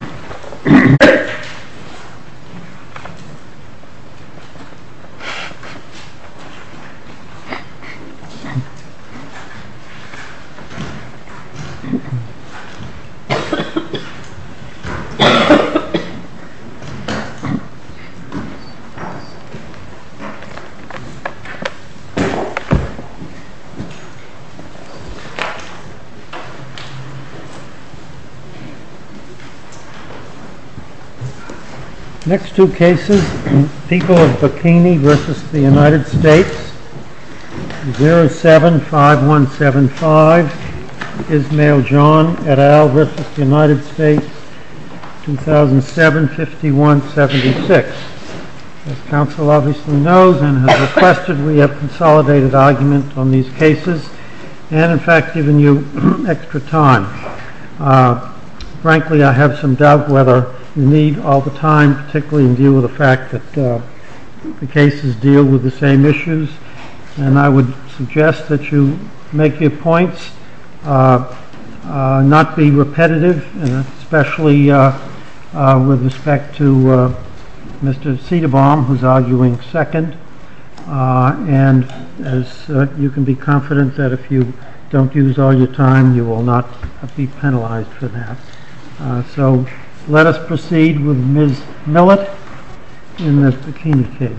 please stand, because I will ask you a question. your question yesterday, what was it? next two cases, people of Bikini vs. the United States 075175 Ismael John et al. vs. the United States 2007-5176 as counsel obviously knows and has requested, we have consolidated argument on these cases and in fact given you extra time frankly I have some doubt whether you need all the time particularly in view of the fact that the cases deal with the same issues and I would suggest that you make your points not be repetitive especially with respect to Mr. Cederbaum who is arguing second and as you can be confident that if you don't use all your time, you will not be penalized for that so let us proceed with Ms. Millett in this Bikini case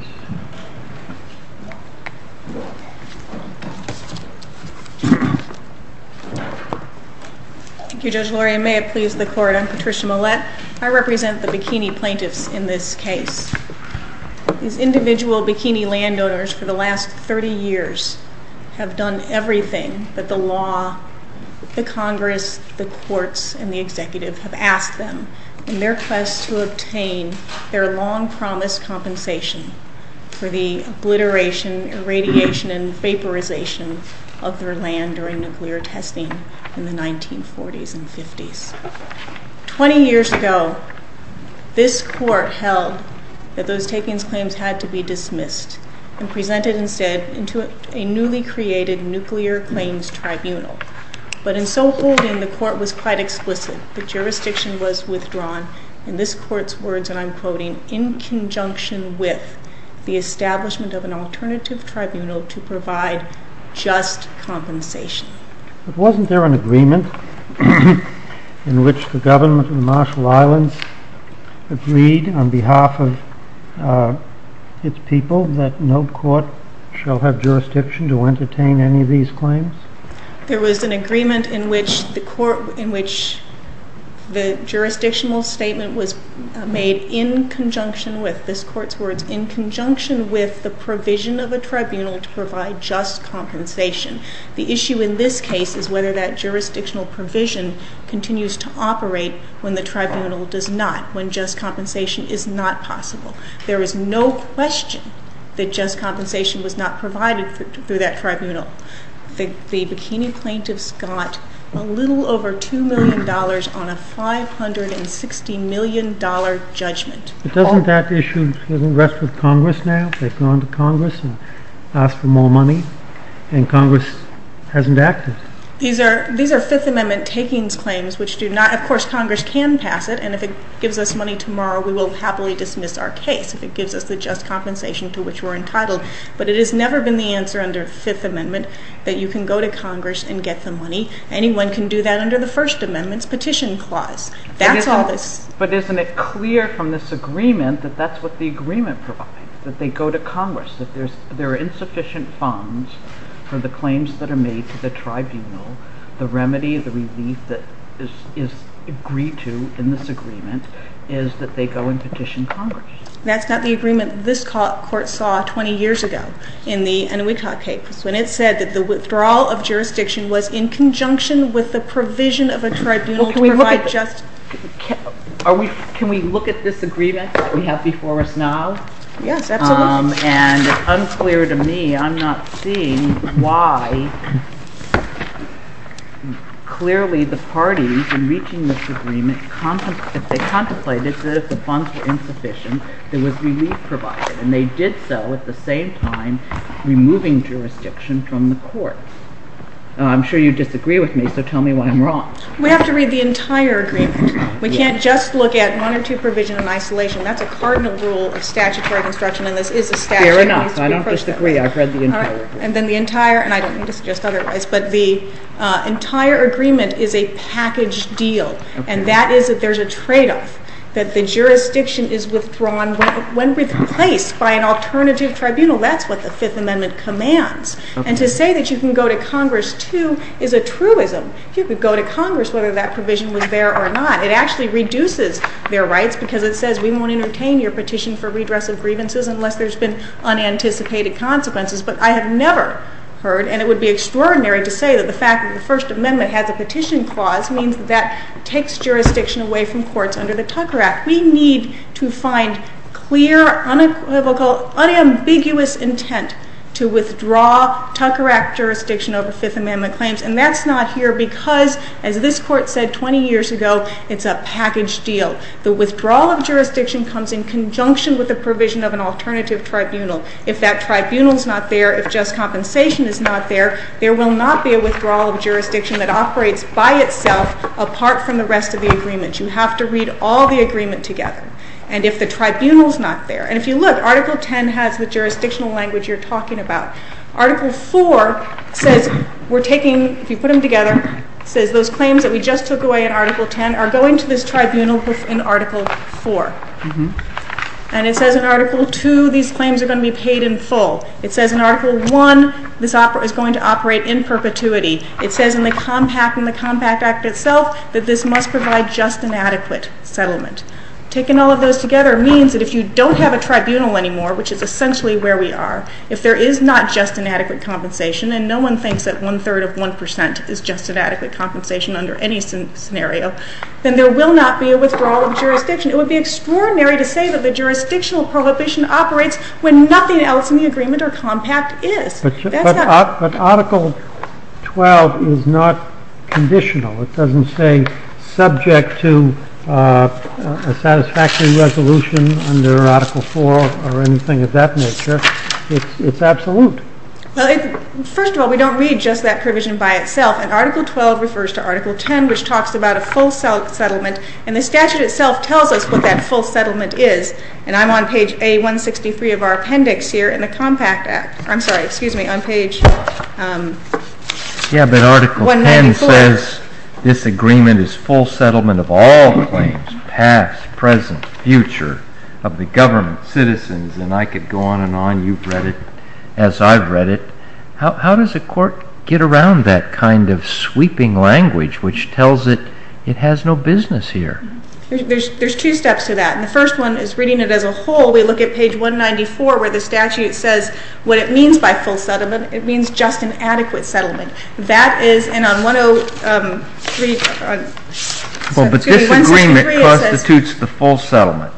Thank you Judge Laurie, may it please the court, I'm Patricia Millett I represent the Bikini plaintiffs in this case these individual Bikini landowners for the last 30 years have done everything that the law, the Congress, the courts, and the executive have asked them in their quest to obtain their long-promised compensation for the obliteration, irradiation, and vaporization of their land during nuclear testing in the 1940s and 50s 20 years ago, this court held that those takings claims had to be dismissed and presented instead into a newly created nuclear claims tribunal but in so holding, the court was quite explicit that jurisdiction was withdrawn in this court's words, and I'm quoting in conjunction with the establishment of an alternative tribunal to provide just compensation but wasn't there an agreement in which the government of the Marshall Islands agreed on behalf of its people that no court shall have jurisdiction to entertain any of these claims? There was an agreement in which the court, in which the jurisdictional statement was made in conjunction with this court's words, in conjunction with the provision of a tribunal to provide just compensation the issue in this case is whether that jurisdictional provision continues to operate when the tribunal does not when just compensation is not possible there is no question that just compensation was not provided through that tribunal the Bikini plaintiffs got a little over $2 million on a $560 million judgment Doesn't that issue rest with Congress now? They've gone to Congress and asked for more money and Congress hasn't acted These are Fifth Amendment takings claims which do not, of course, Congress can pass it and if it gives us money tomorrow we will happily dismiss our case if it gives us the just compensation to which we're entitled but it has never been the answer under Fifth Amendment that you can go to Congress and get the money anyone can do that under the First Amendment's Petition Clause That's all But isn't it clear from this agreement that that's what the agreement provides that they go to Congress that there are insufficient funds for the claims that are made to the tribunal the remedy, the relief that is agreed to in this agreement is that they go and petition Congress That's not the agreement this court saw 20 years ago in the Inuitqaq case when it said that the withdrawal of jurisdiction was in conjunction with the provision of a tribunal to provide just... Can we look at this agreement that we have before us now? Yes, absolutely And it's unclear to me, I'm not seeing why clearly the parties in reaching this agreement contemplated that if the funds were insufficient there was relief provided and they did so at the same time removing jurisdiction from the courts I'm sure you disagree with me, so tell me why I'm wrong We have to read the entire agreement We can't just look at one or two provisions in isolation, that's a cardinal rule of statutory construction and this is a statute Fair enough, I don't disagree, I've read the entire agreement And then the entire, and I don't mean to suggest otherwise but the entire agreement is a package deal and that is that there's a tradeoff that the jurisdiction is withdrawn when replaced by an alternative tribunal that's what the Fifth Amendment commands and to say that you can go to Congress too is a truism You could go to Congress whether that provision was there or not It actually reduces their rights because it says we won't entertain your petition for redress of grievances unless there's been unanticipated consequences, but I have never heard, and it would be extraordinary to say that the fact that the First Amendment has a petition clause means that that takes jurisdiction away from courts under the Tucker Act We need to find clear, unambiguous intent to withdraw Tucker Act jurisdiction over Fifth Amendment claims and that's not here because, as this court said 20 years ago, it's a package deal. The withdrawal of jurisdiction comes in conjunction with the provision of an alternative tribunal If that tribunal's not there, if just compensation is not there, there will not be a withdrawal of jurisdiction that operates by itself apart from the rest of the agreement You have to read all the agreement together and if the tribunal's not there, and if you look, Article 10 has the jurisdictional language you're talking about Article 4 says we're taking, if you put them together it says those claims that we just took away in Article 10 are going to this tribunal in Article 4 and it says in Article 2 these claims are going to be paid in full It says in Article 1 this is going to operate in perpetuity It says in the Compact Act itself that this must provide just and adequate settlement Taking all of those together means that if you don't have a tribunal anymore, which is essentially where we are, if there is not just an adequate compensation, and no one thinks that one third of one percent is just an adequate compensation under any scenario then there will not be a withdrawal of jurisdiction. It would be extraordinary to say that the jurisdictional prohibition operates when nothing else in the agreement or compact is. But Article 12 is not conditional. It doesn't say subject to a satisfactory resolution under Article 4 or anything of that nature It's absolute. First of all, we don't read just that provision by itself, and Article 12 refers to Article 10, which talks about a full settlement, and the statute itself tells us what that full settlement is And I'm on page A163 of our appendix here in the Compact Act I'm sorry, excuse me, on page 194. Yeah, but Article 10 says this agreement is full settlement of all claims past, present, future of the government, citizens and I could go on and on, you've read it as I've read it How does a court get around that kind of sweeping language which tells it, it has no business here? There's two steps to that, and the first one is reading it as a whole we look at page 194 where the statute says what it means by full settlement it means just an adequate settlement That is, and on 103 Well, but this agreement constitutes the full settlement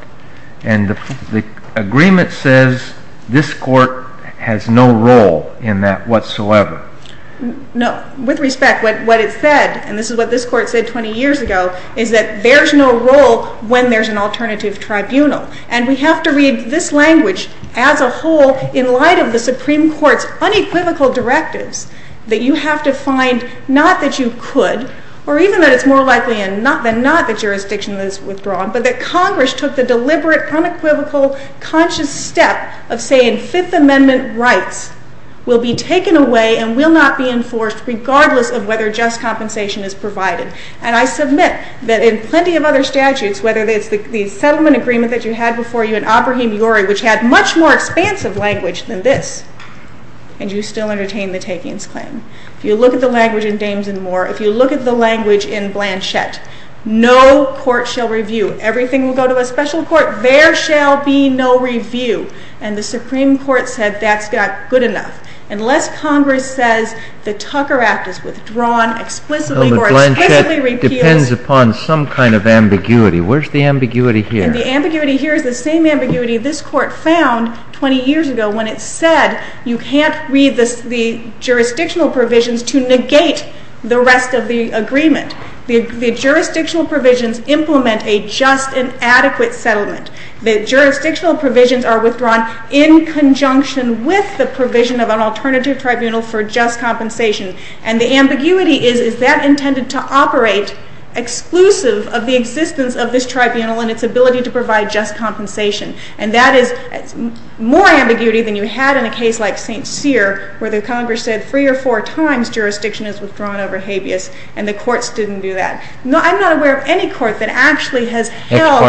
and the agreement says this court has no role in that whatsoever No, with respect what it said, and this is what this court said 20 years ago, is that there's no role when there's an alternative tribunal, and we have to read this language as a whole in light of the Supreme Court's unequivocal directives that you have to find, not that you could or even that it's more likely than not that jurisdiction is withdrawn but that Congress took the deliberate unequivocal conscious step of saying Fifth Amendment rights will be taken away and will not be enforced regardless of whether just compensation is provided and I submit that in plenty of other statutes, whether it's the settlement agreement that you had before you in Abrahem Yore which had much more expansive language than this, and you still entertain the takings claim If you look at the language in Dames and More if you look at the language in Blanchette no court shall review everything will go to a special court there shall be no review and the Supreme Court said that's not good enough, unless Congress says the Tucker Act is withdrawn explicitly or explicitly repealed depends upon some kind of ambiguity where's the ambiguity here? the ambiguity here is the same ambiguity this court found 20 years ago when it said you can't read the jurisdictional provisions to negate the rest of the agreement the jurisdictional provisions implement a just and adequate settlement, the jurisdictional provisions are withdrawn in conjunction with the provision of an alternative tribunal for just compensation and the ambiguity is, is that intended to operate exclusive of the existence of this tribunal and its ability to provide just compensation and that is more ambiguity than you had in a case like St. Cyr, where the Congress said 3 or 4 times jurisdiction is withdrawn over habeas, and the courts didn't do that I'm not aware of any court that actually has held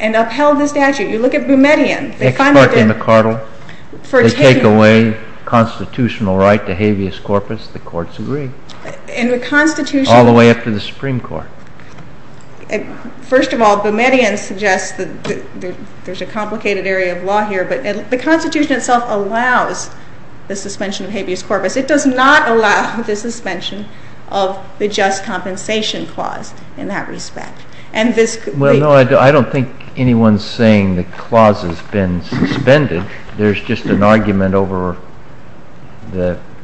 and upheld the statute, you look at Boumediene they finally did they take away constitutional right to habeas corpus the courts agree all the way up to the Supreme Court first of all Boumediene suggests there's a complicated area of law here but the constitution itself allows the suspension of habeas corpus it does not allow the suspension of the just compensation clause in that respect and this, well no I don't think anyone's saying the clause has been suspended there's just an argument over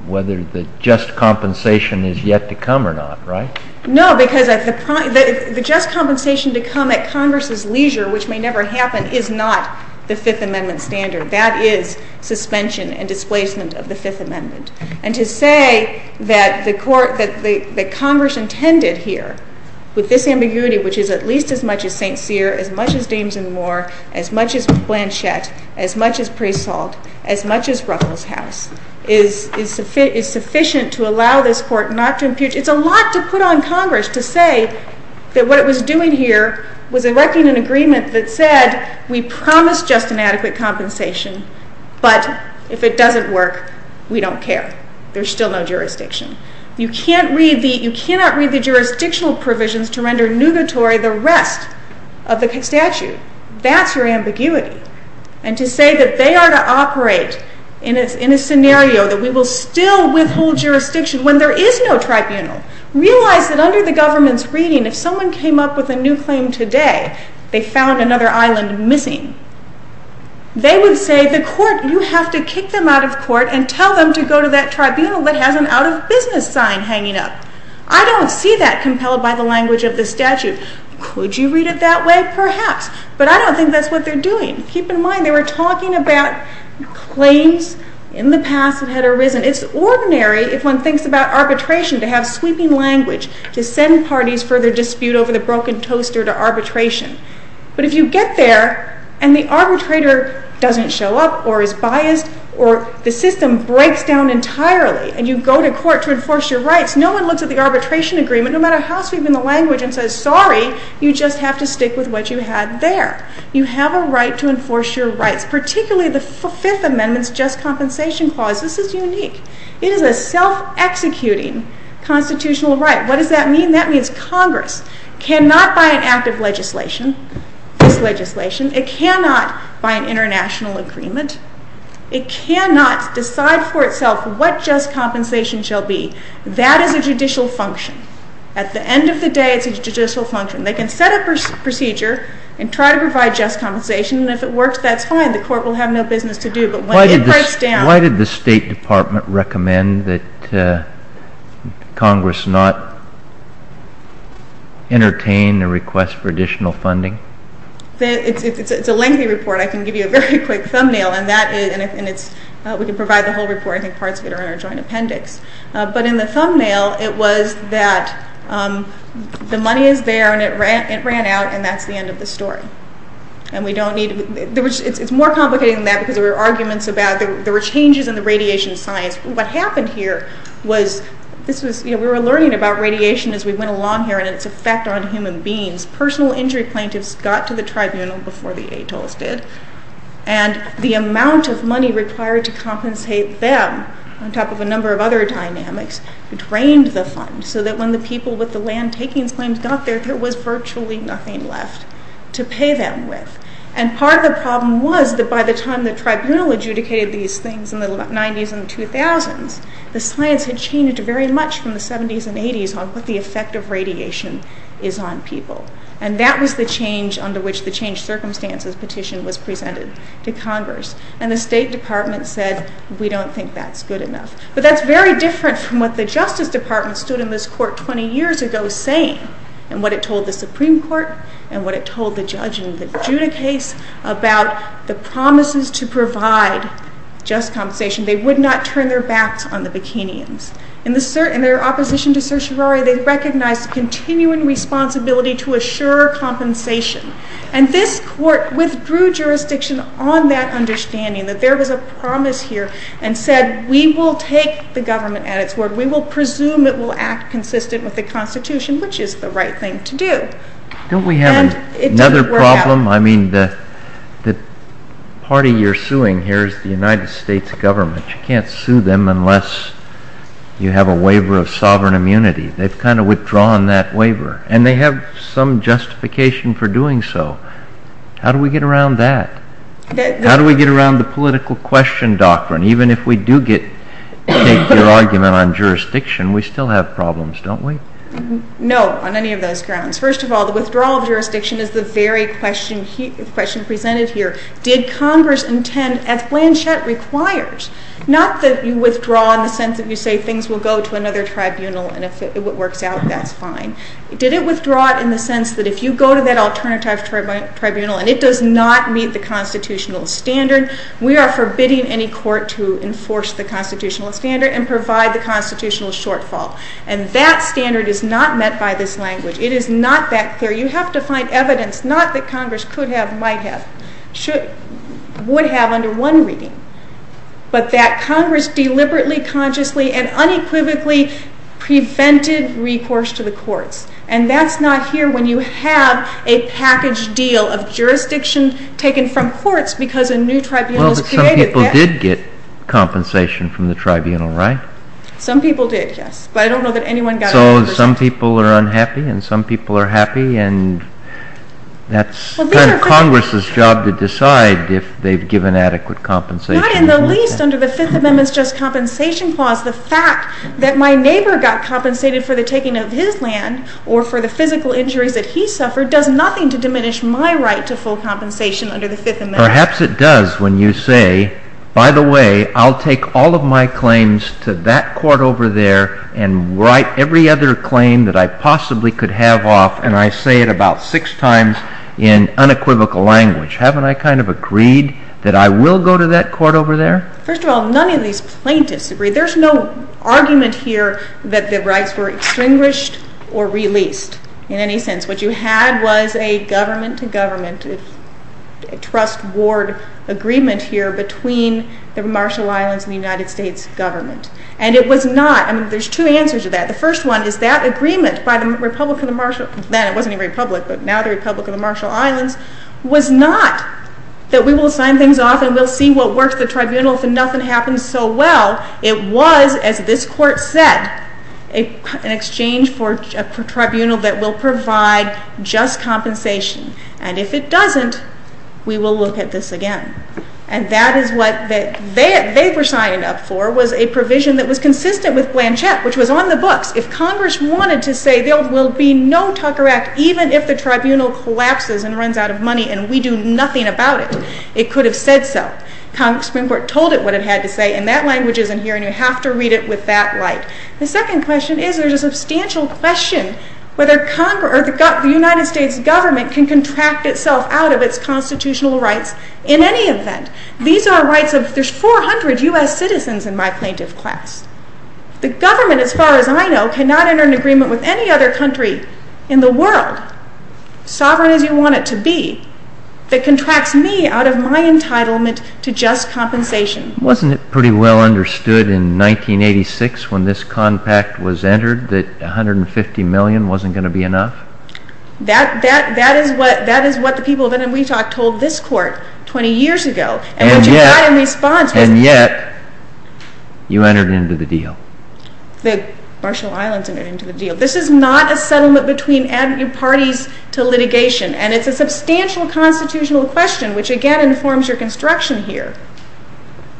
whether the just compensation is yet to come or not right? No, because the just compensation to come at Congress's leisure, which may never happen is not the 5th amendment standard that is suspension and displacement of the 5th amendment and to say that the Congress intended here with this ambiguity which is at least as much as St. Cyr as much as Ames and Moore as much as Blanchette as much as Presault as much as Ruffles House is sufficient to allow this court not to impute, it's a lot to put on Congress to say that what it was doing here was erecting an agreement that said we promise just and adequate compensation, but if it doesn't work, we don't care there's still no jurisdiction you can't read the jurisdictional provisions to render the rest of the statute that's your ambiguity and to say that they are to operate in a scenario that we will still withhold jurisdiction when there is no tribunal realize that under the government's reading if someone came up with a new claim today they found another island missing, they would say the court, you have to kick them out of court and tell them to go to that tribunal that has an out of business sign hanging up, I don't see that impelled by the language of the statute could you read it that way? Perhaps but I don't think that's what they're doing keep in mind they were talking about claims in the past that had arisen, it's ordinary if one thinks about arbitration to have sweeping language to send parties for their dispute over the broken toaster to arbitration but if you get there and the arbitrator doesn't show up or is biased or the system breaks down entirely and you go to court to enforce your rights no one looks at the arbitration agreement no matter how sweeping the language and says sorry you just have to stick with what you had there you have a right to enforce your rights particularly the 5th amendment's just compensation clause, this is unique it is a self-executing constitutional right what does that mean? That means Congress cannot by an act of legislation this legislation, it cannot by an international agreement it cannot decide for itself what just compensation shall be. That is a judicial function at the end of the day it's a judicial function. They can set up a procedure and try to provide just compensation and if it works that's fine the court will have no business to do but when it breaks down Why did the State Department recommend that Congress not entertain a request for additional funding? It's a lengthy report I can give you a very quick thumbnail and we can provide the whole report I think parts of it are in our joint appendix but in the thumbnail it was that the money is there and it ran out and that's the end of the story it's more complicated than that because there were arguments about there were changes in the radiation science what happened here was we were learning about radiation as we went along here and it's effect on human beings personal injury plaintiffs got to the tribunal before the ATOLs did and the amount of money required to compensate them on top of a number of other dynamics drained the fund so that when the people with the land takings claims got there there was virtually nothing left to pay them with and part of the problem was that by the time the tribunal adjudicated these things in the 90s and 2000s the science had changed very much from the 70s and 80s on what the effect of radiation is on people and that was the change under which the change circumstances petition was presented to Congress and the State Department said we don't think that's good enough but that's very different from what the Justice Department stood in this court 20 years ago saying and what it told the Supreme Court and what it told the judge in the Judah case about the promises to provide just compensation they would not turn their backs on the Bikinians in their opposition to certiorari they recognized continuing responsibility to assure compensation and this court withdrew jurisdiction on that understanding that there was a promise here and said we will take the government at it's word we will presume it will act consistent with the constitution which is the right thing to do don't we have another problem I mean the party you're suing here is the United States government you can't sue them unless you have a waiver of sovereign immunity they've kind of withdrawn that waiver and they have some justification for doing so how do we get around that how do we get around the political question doctrine even if we do get take your argument on jurisdiction we still have problems don't we no on any of those grounds first of all the withdrawal of jurisdiction is the very question presented here did congress intend as Blanchett requires not that you withdraw in the sense that you say things will go to another tribunal and if it works out that's fine did it withdraw it in the sense that if you go to that alternative tribunal and it does not meet the constitutional standard we are forbidding any court to enforce the constitutional standard and provide the constitutional shortfall and that standard is not met by this language it is not that clear you have to find evidence not that congress could have might have would have under one reading but that congress deliberately consciously and unequivocally prevented recourse to the courts and that's not here when you have a package deal of jurisdiction taken from courts because a new tribunal some people did get compensation from the tribunal right some people did yes some people are unhappy and some people are happy and that's congress's job to decide if they've given adequate compensation not in the least under the 5th amendment's just compensation clause the fact that my neighbor got compensated for the taking of his land or for the physical injuries that he suffered does nothing to diminish my right to full compensation under the 5th amendment perhaps it does when you say by the way I'll take all of my claims to that court over there and write every other claim that I possibly could have off and I say it about 6 times in unequivocal language haven't I kind of agreed that I will go to that court over there first of all none of these argument here that the rights were extinguished or released in any sense what you had was a government to government trust ward agreement here between the Marshall Islands and the United States government and it was not I mean there's 2 answers to that the first one is that agreement by the republic of the Marshall it wasn't a republic but now the republic of the Marshall Islands was not that we will sign things off and we'll see what works the tribunal if nothing happens so well it was as this court said an exchange for a tribunal that will provide just compensation and if it doesn't we will look at this again and that is what they were signing up for was a provision that was consistent with Blanchett which was on the books if congress wanted to say there will be no Tucker Act even if the tribunal collapses and runs out of money and we do nothing about it it could have said so congress told it what it had to say and that language isn't here and you have to read it with that light the second question is there's a substantial question whether the United States government can contract itself out of its constitutional rights in any event these are rights of there's 400 US citizens in my plaintiff class the government as far as I know cannot enter an agreement with any other country in the world sovereign as you want it to be that contracts me out of my entitlement to just compensation wasn't it pretty well understood in 1986 when this compact was entered that 150 million wasn't going to be enough that is what the people of NMWT told this court 20 years ago and what you got in response was and yet you entered into the deal the Marshall Islands entered into the deal this is not a settlement between parties to litigation and it's a substantial constitutional question which again informs your construction here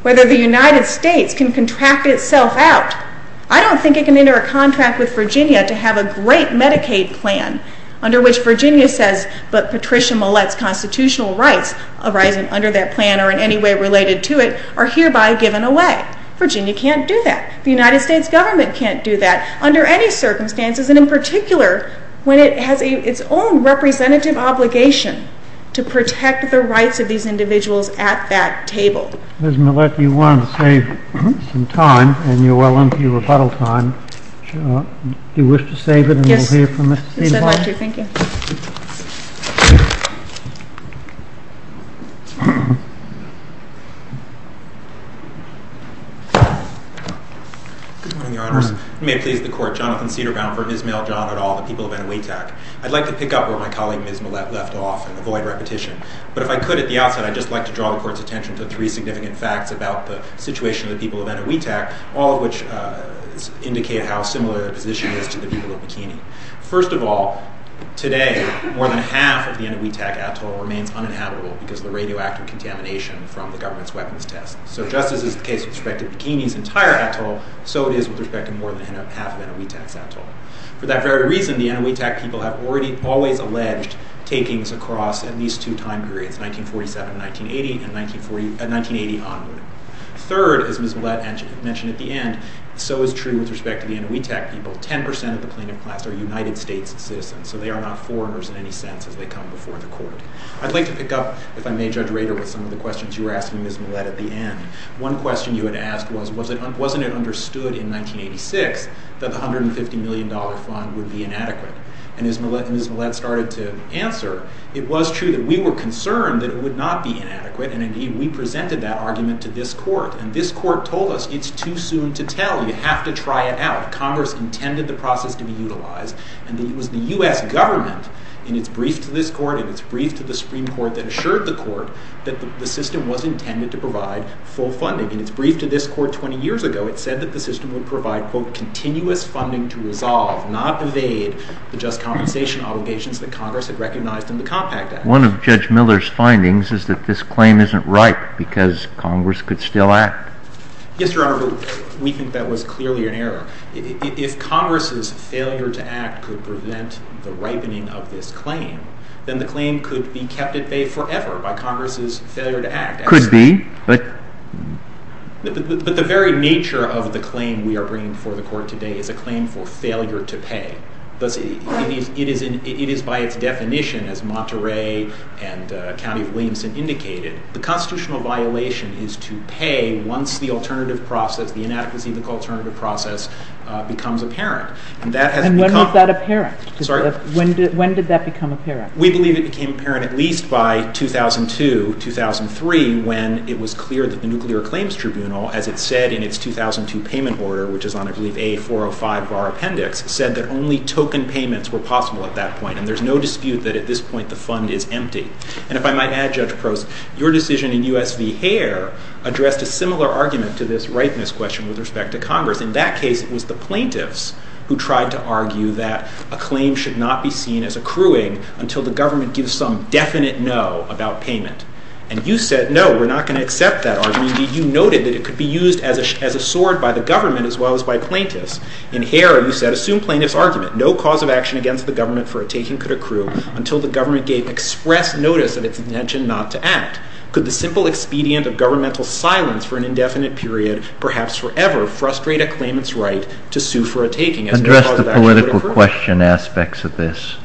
whether the United States can contract itself out I don't think it can enter a contract with Virginia to have a great Medicaid plan under which Virginia says but Patricia Mallette's constitutional rights arise under that plan or in any way related to it are hereby given away Virginia can't do that the United States government can't do that under any circumstances and in particular when it has its own representative obligation to protect the rights of these individuals at that table Ms. Mallette you wanted to save some time and you're well into your rebuttal time do you wish to save it and we'll hear from Ms. Cedarbrown yes I'd like to thank you good morning your honors may it please the court Jonathan Cedarbrown for Ms. Mallette, John et al the people of Eniwetak I'd like to pick up where my colleague Ms. Mallette left off but if I could at the outset I'd just like to draw the court's attention to three significant facts about the situation of the people of Eniwetak all of which indicate how similar their position is to the people of Bikini first of all today more than half of the Eniwetak atoll remains uninhabitable because of the radioactive contamination from the government's weapons test so just as is the case with respect to Bikini's entire atoll so it is with respect to more than half of Eniwetak's atoll for that very reason the Eniwetak people have always alleged takings across at least two time periods 1947 and 1980 and 1980 onward third as Ms. Mallette mentioned at the end so is true with respect to the Eniwetak people 10% of the plaintiff class are United States citizens so they are not foreigners in any sense as they come before the court I'd like to pick up if I may Judge Rader with some of the questions you were asking Ms. Mallette at the end one question you had asked was wasn't it understood in 1986 that the $150 million fund would be inadequate and as Ms. Mallette started to answer it was true that we were concerned that it would not be inadequate and indeed we presented that argument to this court and this court told us it's too soon to tell you have to try it out Congress intended the process to be utilized and it was the U.S. government in its brief to this court and its brief to the Supreme Court that assured the court that the system was intended to provide full funding in its brief to this court 20 years ago it said that the system would provide continuous funding to resolve not evade the just compensation obligations that Congress had recognized in the Compact Act one of Judge Miller's findings is that this claim isn't ripe because Congress could still act yes your honor but we think that was clearly an error if Congress's failure to act could prevent the ripening of this claim then the claim could be kept at bay forever by Congress's failure to act could be but the very nature of the claim we are bringing before the court today is a claim for failure to pay it is by its definition as Monterey and County of Williamson indicated the constitutional violation is to pay once the alternative process the inadequacy of the alternative process becomes apparent and when was that apparent? when did that become apparent? we believe it became apparent at least by 2002-2003 when it was clear that the Nuclear Claims Tribunal as it said in its 2002 payment order which is on I believe a 405 bar appendix said that only token payments were possible at that point and there is no dispute that at this point the fund is empty and if I might add Judge Prose your decision in US v. Hare addressed a similar argument to this ripeness question with respect to Congress in that case it was the plaintiffs who tried to argue that a claim should not be seen as accruing until the government gives some definite no about payment and you said no we are not going to accept that argument you noted that it could be used as a sword by the government as well as by plaintiffs in Hare you said assume plaintiffs argument no cause of action against the government for a taking could accrue until the government gave express notice of its intention not to act could the simple expedient of governmental silence for an indefinite period perhaps forever frustrate a claimants right to sue for a taking address the political question aspects of this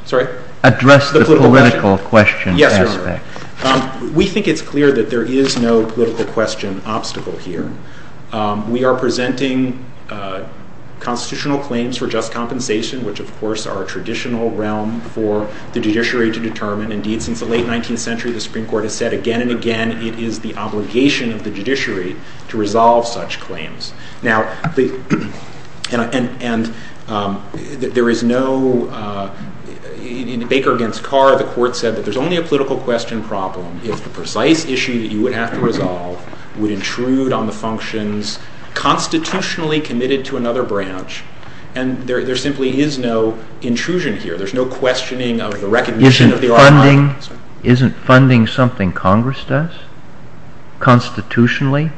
address the political question aspects we think it's clear that there is no political question obstacle here we are presenting constitutional claims for just compensation which of course are a traditional realm for the judiciary to determine indeed since the late 19th century the Supreme Court has said again and again it is the obligation of the judiciary to resolve such claims now there is no Baker against Carr the court said that there is only a political question problem if the precise issue that you would have to resolve would intrude on the functions constitutionally committed to another branch and there simply is no intrusion here there is no questioning of the recognition isn't funding something congress does constitutionally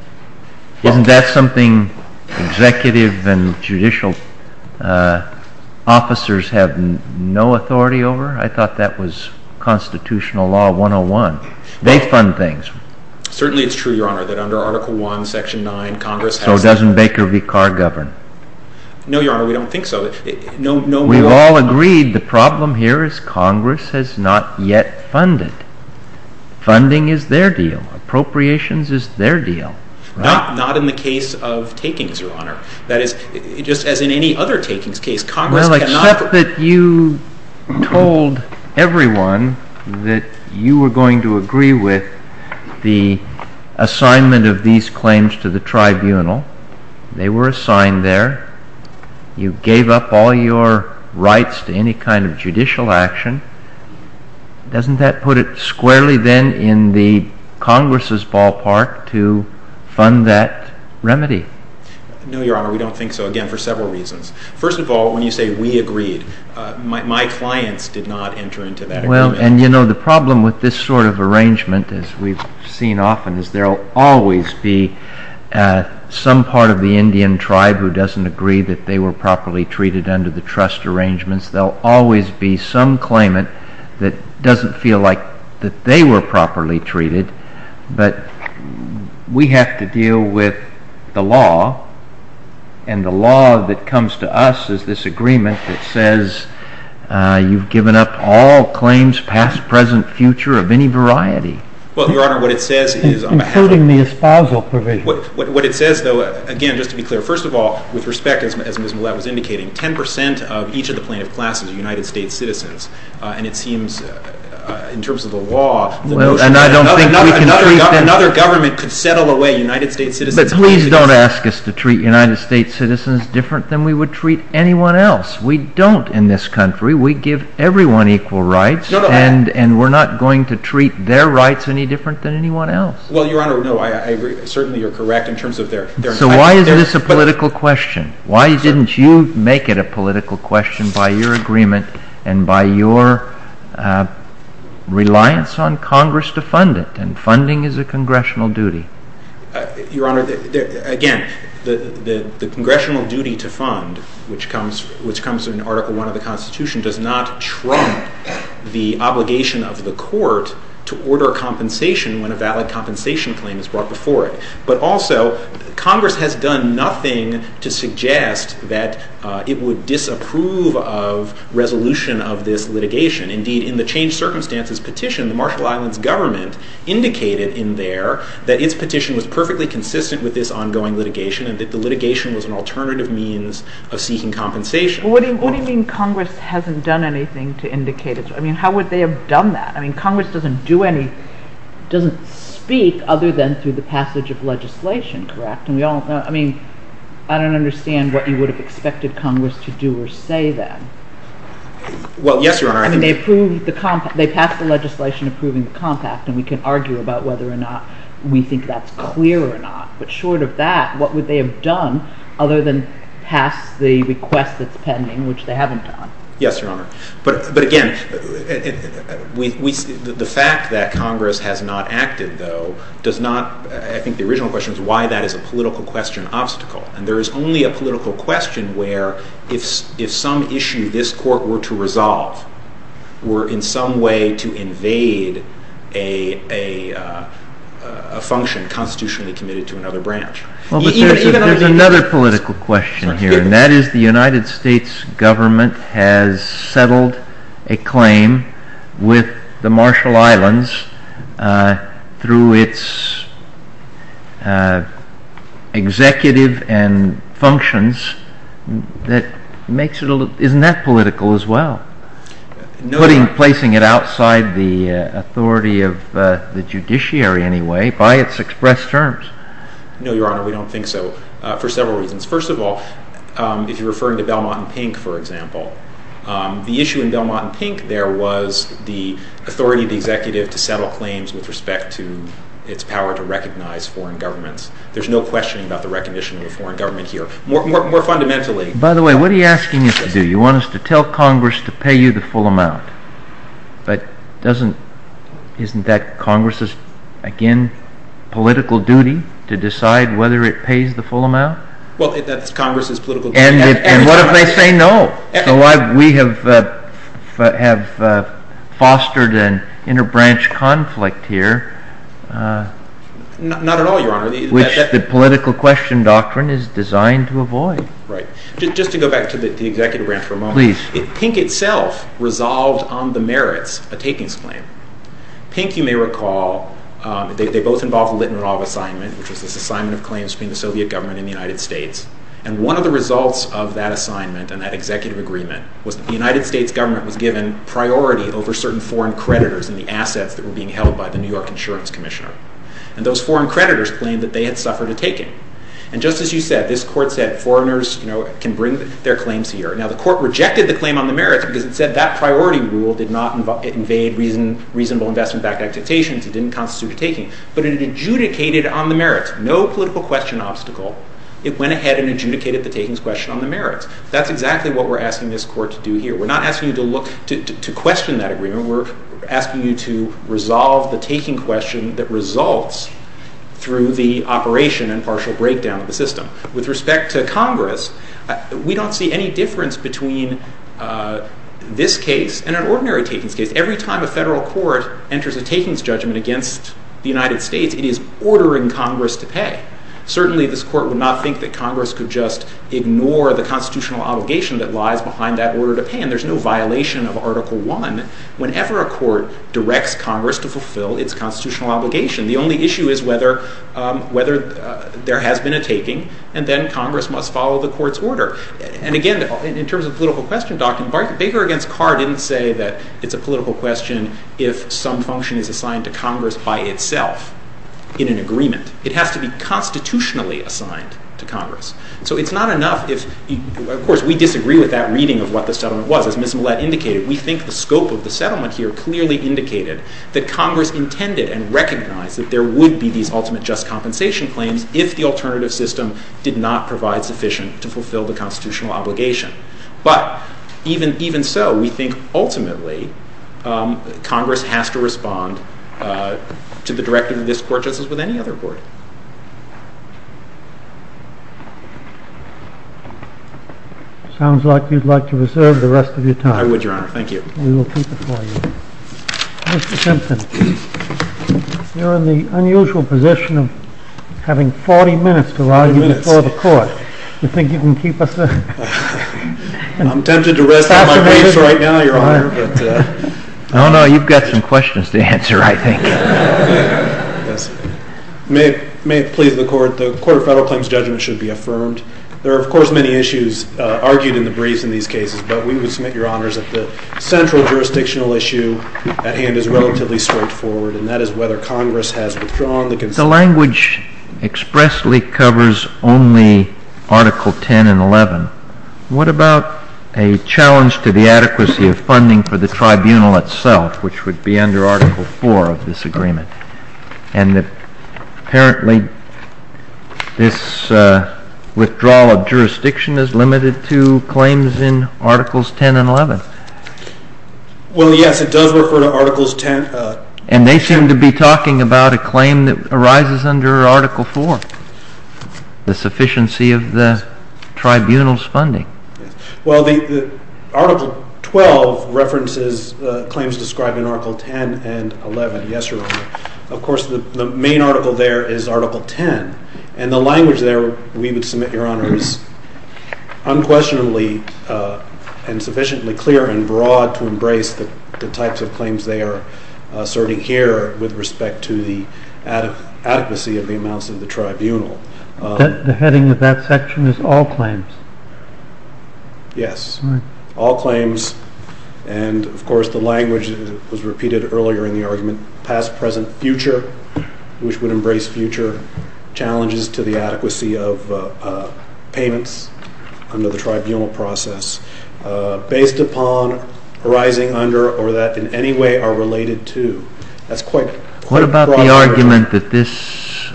isn't that something executive and judicial officers have no authority over I thought that was constitutional law 101 they fund things certainly it's true your honor under article 1 section 9 congress so doesn't Baker v Carr govern no your honor we don't think so we've all agreed the problem here is congress has not yet funded funding is their deal appropriations is their deal not in the case of takings your honor that is just as in any other takings case congress cannot except that you told everyone that you were going to agree with the assignment of these claims to the tribunal they were assigned there you gave up all your rights to any kind of judicial action doesn't that put it squarely then in the congress's ballpark to fund that no your honor we don't think so again for several reasons first of all when you say we agreed my clients did not enter into that and you know the problem with this sort of arrangement as we've seen often is there will always be some part of the Indian tribe who doesn't agree that they were properly treated under the trust arrangements there will always be some claimant that doesn't feel like that they were properly treated but we have to deal with the law and the law that comes to us is this agreement that says you've given up all claims past present future of any variety well your honor what it says is including the espousal provision what it says though again just to be clear first of all with respect as Ms. Millat was indicating 10% of each of the plaintiff classes are United States citizens and it seems in terms of the law another government could settle away United States citizens but please don't ask us to treat United States citizens different than we would treat anyone else we don't in this country we give everyone equal rights and we're not going to treat their rights any different than anyone else well your honor no I agree certainly you're correct in terms of their so why is this a political question why didn't you make it a political question by your agreement and by your reliance on Congress to fund it and funding is a Congressional duty your honor again the Congressional duty to fund which comes in Article 1 of the Constitution does not trump the obligation of the court to order compensation when a valid compensation claim is brought before it but also Congress has done nothing to suggest that it would disapprove of resolution of this litigation indeed in the change circumstances petition the Marshall Islands government indicated in there that its petition was perfectly consistent with this ongoing litigation and that the litigation was an alternative means of seeking compensation what do you mean Congress hasn't done anything to indicate I mean how would they have done that I mean Congress doesn't do any doesn't speak other than through the passage of legislation correct and we all know I mean I don't understand what you would have expected Congress to do or say then well yes your honor I mean they approved the compact they passed the legislation approving the compact and we can argue about whether or not we think that's clear or not but short of that what would they have done other than pass the request that's pending which they haven't done yes your honor but again we the fact that Congress has not acted though does not I think the original question is why that is a political question obstacle and there is only a political question where if some issue this court were to resolve were in some way to invade a function constitutionally committed to another branch there is another political question here and that is the United States government has settled a claim with the Marshall Islands through its executive and functions that makes it isn't that political as well putting placing it outside the authority of the judiciary anyway by its express terms no your honor we don't think so for several reasons first of all if you are referring to Belmont and Pink for example the issue in Belmont and Pink there was the authority of the executive to settle claims with respect to its power to recognize foreign governments there is no question about the recognition of a foreign government here more fundamentally by the way what are you asking us to do you want us to tell Congress to pay you the full amount but doesn't isn't that Congress's again political duty to decide whether it pays the full amount well that is Congress's political duty and what if they say no so why we have fostered an inner branch conflict here not at all your honor which the political question doctrine is designed to avoid just to go back to the executive branch Pink itself resolved on the merits a takings claim Pink you may recall they both involve the Litner and Roloff assignment which was this assignment of claims between the Soviet government and the United States and one of the results of that assignment and that executive agreement was that the United States government was given priority over certain foreign creditors in the assets that were being held by the New York Insurance Commissioner and those foreign creditors claimed that they had suffered a taking and just as you said this court said foreigners you know can bring their claims here now the court rejected the claim on the merits because it said that priority rule did not invade reasonable investment backed expectations it didn't constitute a taking but it adjudicated on the merits no political question obstacle it went ahead and adjudicated the takings question on the merits that's exactly what we're asking this court to do here we're not asking you to look to question that agreement we're asking you to resolve the taking question that results through the operation and partial breakdown of the system with respect to Congress we don't see any difference between this case and an ordinary takings case every time a federal court enters a takings judgment against the United States it is ordering Congress to pay certainly this court would not think that Congress could just ignore the constitutional obligation that lies behind that order to pay and there's no violation of article one whenever a court directs Congress to fulfill its constitutional obligation the only issue is whether whether there has been a taking and then Congress must follow the court's order and again in terms of political question documents Baker against Carr didn't say that it's a political question if some function is assigned to Congress by itself in an agreement it has to be constitutionally assigned to Congress so it's not enough if of course we disagree with that reading of what the settlement was as Ms. Millett indicated we think the scope of the settlement here clearly indicated that Congress intended and recognized that there would be these ultimate just compensation claims if the alternative system did not provide sufficient to fulfill the constitutional obligation but even so we think ultimately Congress has to respond to the directive of this court just as with any other court sounds like you'd like to reserve the rest of your time I would your honor thank you we will keep it for you Mr. Simpson you're in the unusual position of having 40 minutes to argue before the court you think you can keep us there I'm tempted to rest on my waist right now your honor I don't know you've got some questions to answer I think may I may I ask may it please the court the court of federal claims judgment should be affirmed there are of course many issues argued in the briefs in these cases but we would submit your honors that the central jurisdictional issue at hand is relatively straightforward and that is whether Congress has withdrawn the language expressly covers only article 10 and 11 what about a challenge to the adequacy of funding for the tribunal itself which would be under article 4 of this agreement and that apparently this withdrawal of jurisdiction is limited to claims in articles 10 and 11 well yes it does refer to articles 10 and they seem to be talking about a claim that arises under article 4 the sufficiency of the tribunal's funding article 12 references claims described in 11 yes your honor of course the main article there is article 10 and the language there we would submit your honors unquestionably and sufficiently clear and broad to embrace the types of claims they are asserting here with respect to the adequacy of the amounts of the tribunal the heading of that section is all claims yes all claims and of course the language was repeated earlier in the argument past present future which would embrace future challenges to the adequacy of payments under the tribunal process based upon arising under or that in any way are related to what about the argument that this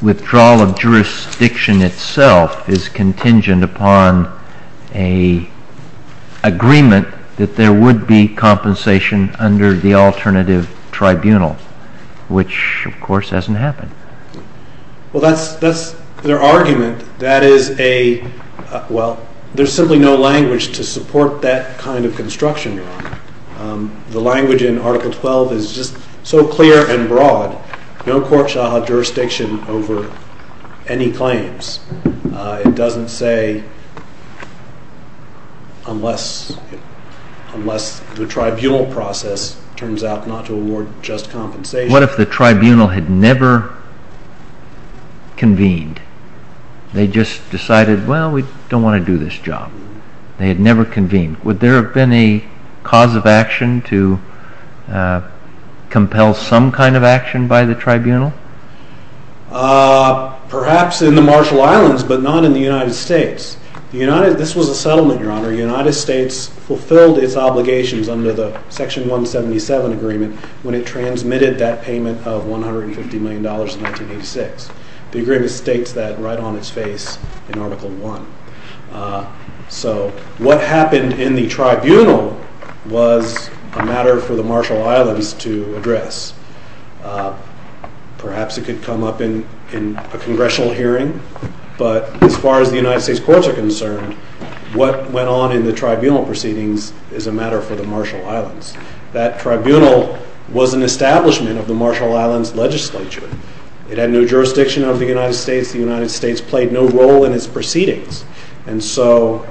withdrawal of jurisdiction itself is contingent upon a there would be compensation under the alternative tribunal which of course hasn't happened well that's their argument that is a well there is simply no language to support that kind of construction the language in article 12 is just so clear and broad no court shall have jurisdiction over any claims it doesn't say unless unless the tribunal process turns out not to award just compensation what if the tribunal had never convened they just decided well we don't want to do this job they had never convened would there have been a cause of action to compel some kind of action by the tribunal perhaps in the Marshall Islands but not in the United States this was a settlement your honor the United States fulfilled its obligations under the section 177 agreement when it transmitted that payment of 150 million dollars in 1986 the agreement states that right on its face in article 1 so what happened in the tribunal was a matter for the Marshall Islands to address perhaps it could come up in a congressional hearing but as far as the United States courts are concerned what went on in the tribunal proceedings is a matter for the Marshall Islands that tribunal was an establishment of the Marshall Islands legislature it had no jurisdiction of the United States the United States played no role in its proceedings and so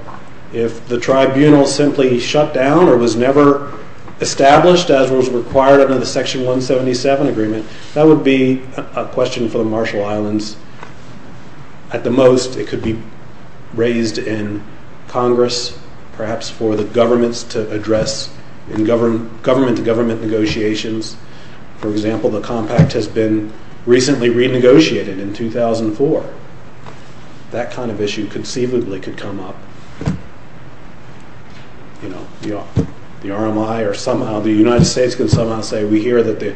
if the tribunal simply shut down or was never established as was required under the section 177 agreement that would be a question for the Marshall Islands at the most it could be raised in Congress perhaps for the governments to address government to government negotiations for example the compact has been recently renegotiated in 2004 that kind of issue conceivably could come up you know the RMI or somehow the United States can somehow say we hear that the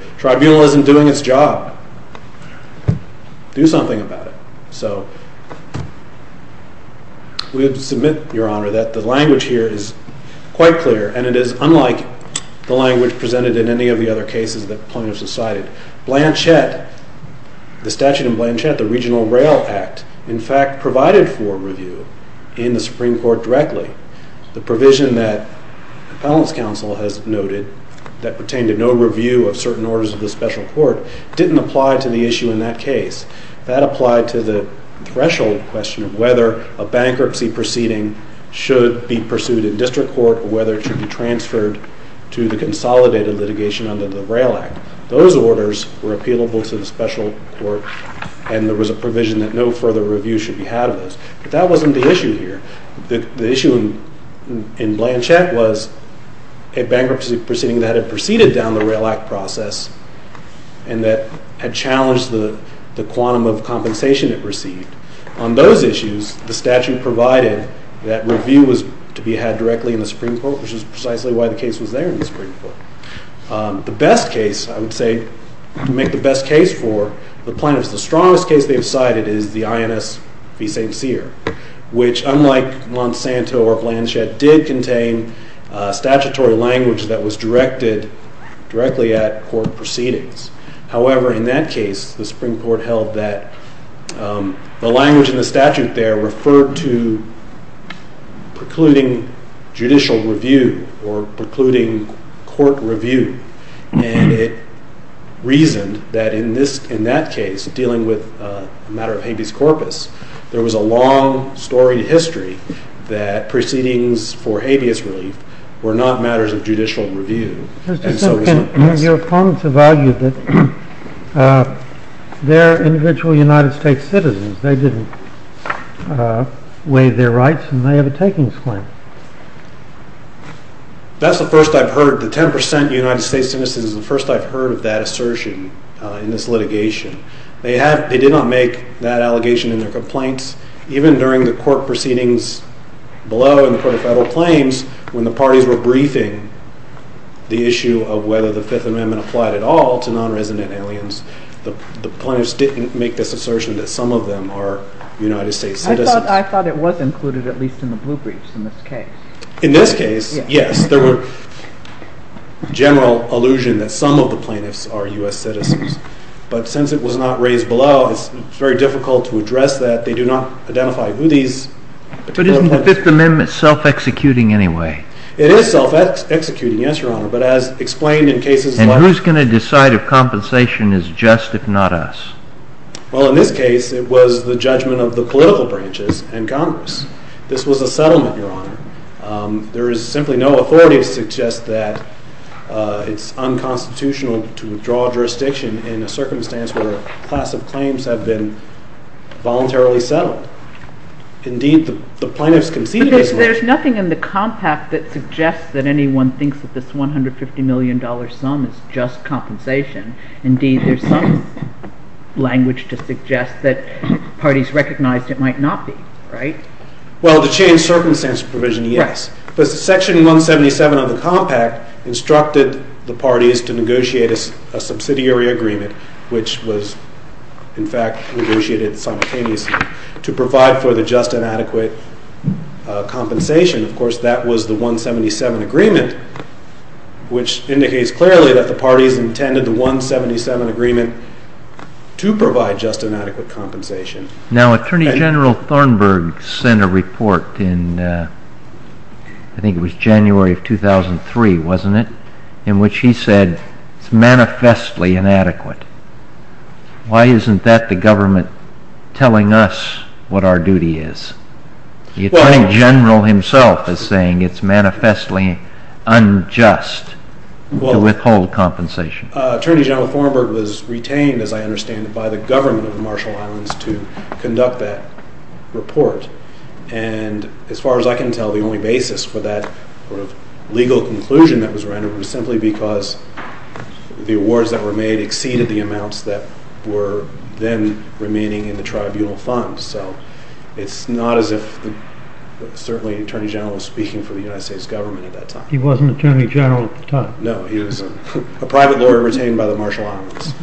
do something about it so we have to submit your honor that the language here is quite clear and it is unlike the language presented in any of the other cases that plaintiffs have cited Blanchett the statute in Blanchett the regional rail act in fact provided for review in the Supreme Court directly the provision that the panelist council has noted that pertained to no review of certain orders of the special court didn't apply to the issue in that case. That applied to the threshold question whether a bankruptcy proceeding should be pursued in district court or whether it should be transferred to the consolidated litigation under the rail act. Those orders were appealable to the special court and there was a provision that no further review should be had of those. But that wasn't the issue here. The issue in Blanchett was a bankruptcy proceeding that had proceeded down the rail act process and that had challenged the quantum of compensation it received. On those issues the statute provided that review was to be had directly in the Supreme Court which is precisely why the case was there in the Supreme Court. The best case I would say to make the best case for the plaintiffs the strongest case they have cited is the INS v. St. Cyr which unlike Monsanto or Blanchett did contain statutory language that was directed directly at court proceedings. However in that case the Supreme Court held that the language in the statute there referred to precluding judicial review or precluding court review and it reasoned that in that case dealing with a matter of habeas corpus there was a long storied history that proceedings for judicial review. Your opponents have argued that their individual United States citizens they didn't waive their rights and they have a takings claim. That's the first I've heard. The 10% United States citizens is the first I've heard of that assertion in this litigation. They did not make that allegation in their complaints even during the court proceedings below in the court of federal claims when the parties were briefing the issue of whether the Fifth Amendment applied at all to non-resident aliens the plaintiffs didn't make this assertion that some of them are United States citizens. I thought it was included at least in the blue briefs in this case. In this case yes there were general allusion that some of the plaintiffs are U.S. citizens but since it was not raised below it's very difficult to address that. They do not identify who these plaintiffs are. But isn't the Fifth Amendment self-executing anyway? It is self-executing yes your honor but as explained in cases like... And who's going to decide if compensation is just if not us? Well in this case it was the judgment of the political branches and Congress. This was a settlement your honor. There is simply no authority to suggest that it's unconstitutional to withdraw jurisdiction in a circumstance where a class of claims have been The plaintiffs conceded this one. But there's nothing in the compact that suggests that anyone thinks that this $150 million sum is just compensation indeed there's some language to suggest that parties recognized it might not be right? Well to change circumstance provision yes. But section 177 of the compact instructed the parties to negotiate a subsidiary agreement which was in fact negotiated simultaneously to provide for the just inadequate compensation of course that was the 177 agreement which indicates clearly that the parties intended the 177 agreement to provide just inadequate compensation. Now Attorney General Thornburg sent a report in I think it was January of 2003 wasn't it? In which he said it's manifestly inadequate. Why isn't that the government telling us what our duty is? The Attorney General himself is saying it's manifestly unjust to withhold compensation. Attorney General Thornburg was retained as I understand it by the government of the Marshall Islands to conduct that report and as far as I can tell the only basis for that legal conclusion that was rendered was simply because the awards that were made exceeded the remaining in the tribunal funds so it's not as if certainly the Attorney General was speaking for the United States government at that time. He wasn't Attorney General at the time. No, he was a private lawyer retained by the Marshall Islands.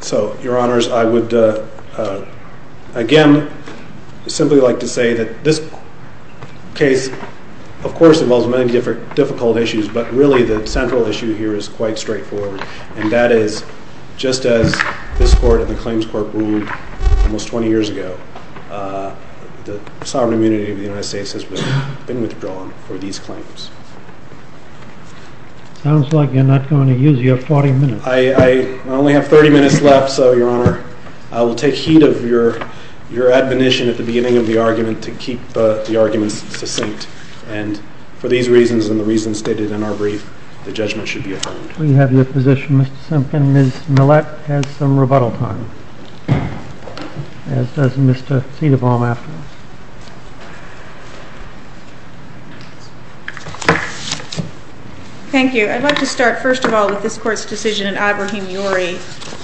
So, Your Honors, I would again simply like to say that this case of course involves many difficult issues but really the central issue here is quite straightforward and that is just as this Court and the Claims Court ruled almost 20 years ago the sovereign immunity of the United States has been withdrawn for these claims. Sounds like you're not going to use your 40 minutes. I only have 30 minutes left so Your Honor I will take heed of your admonition at the beginning of the argument to keep the arguments succinct and for these reasons and the reasons stated in our brief, the judgment should be affirmed. We have your position Mr. Simpkin. Ms. Millett has some rebuttal time as does Mr. Cedarbaum after us. Thank you. I'd like to start first of all with this Court's decision in Abrahem Uri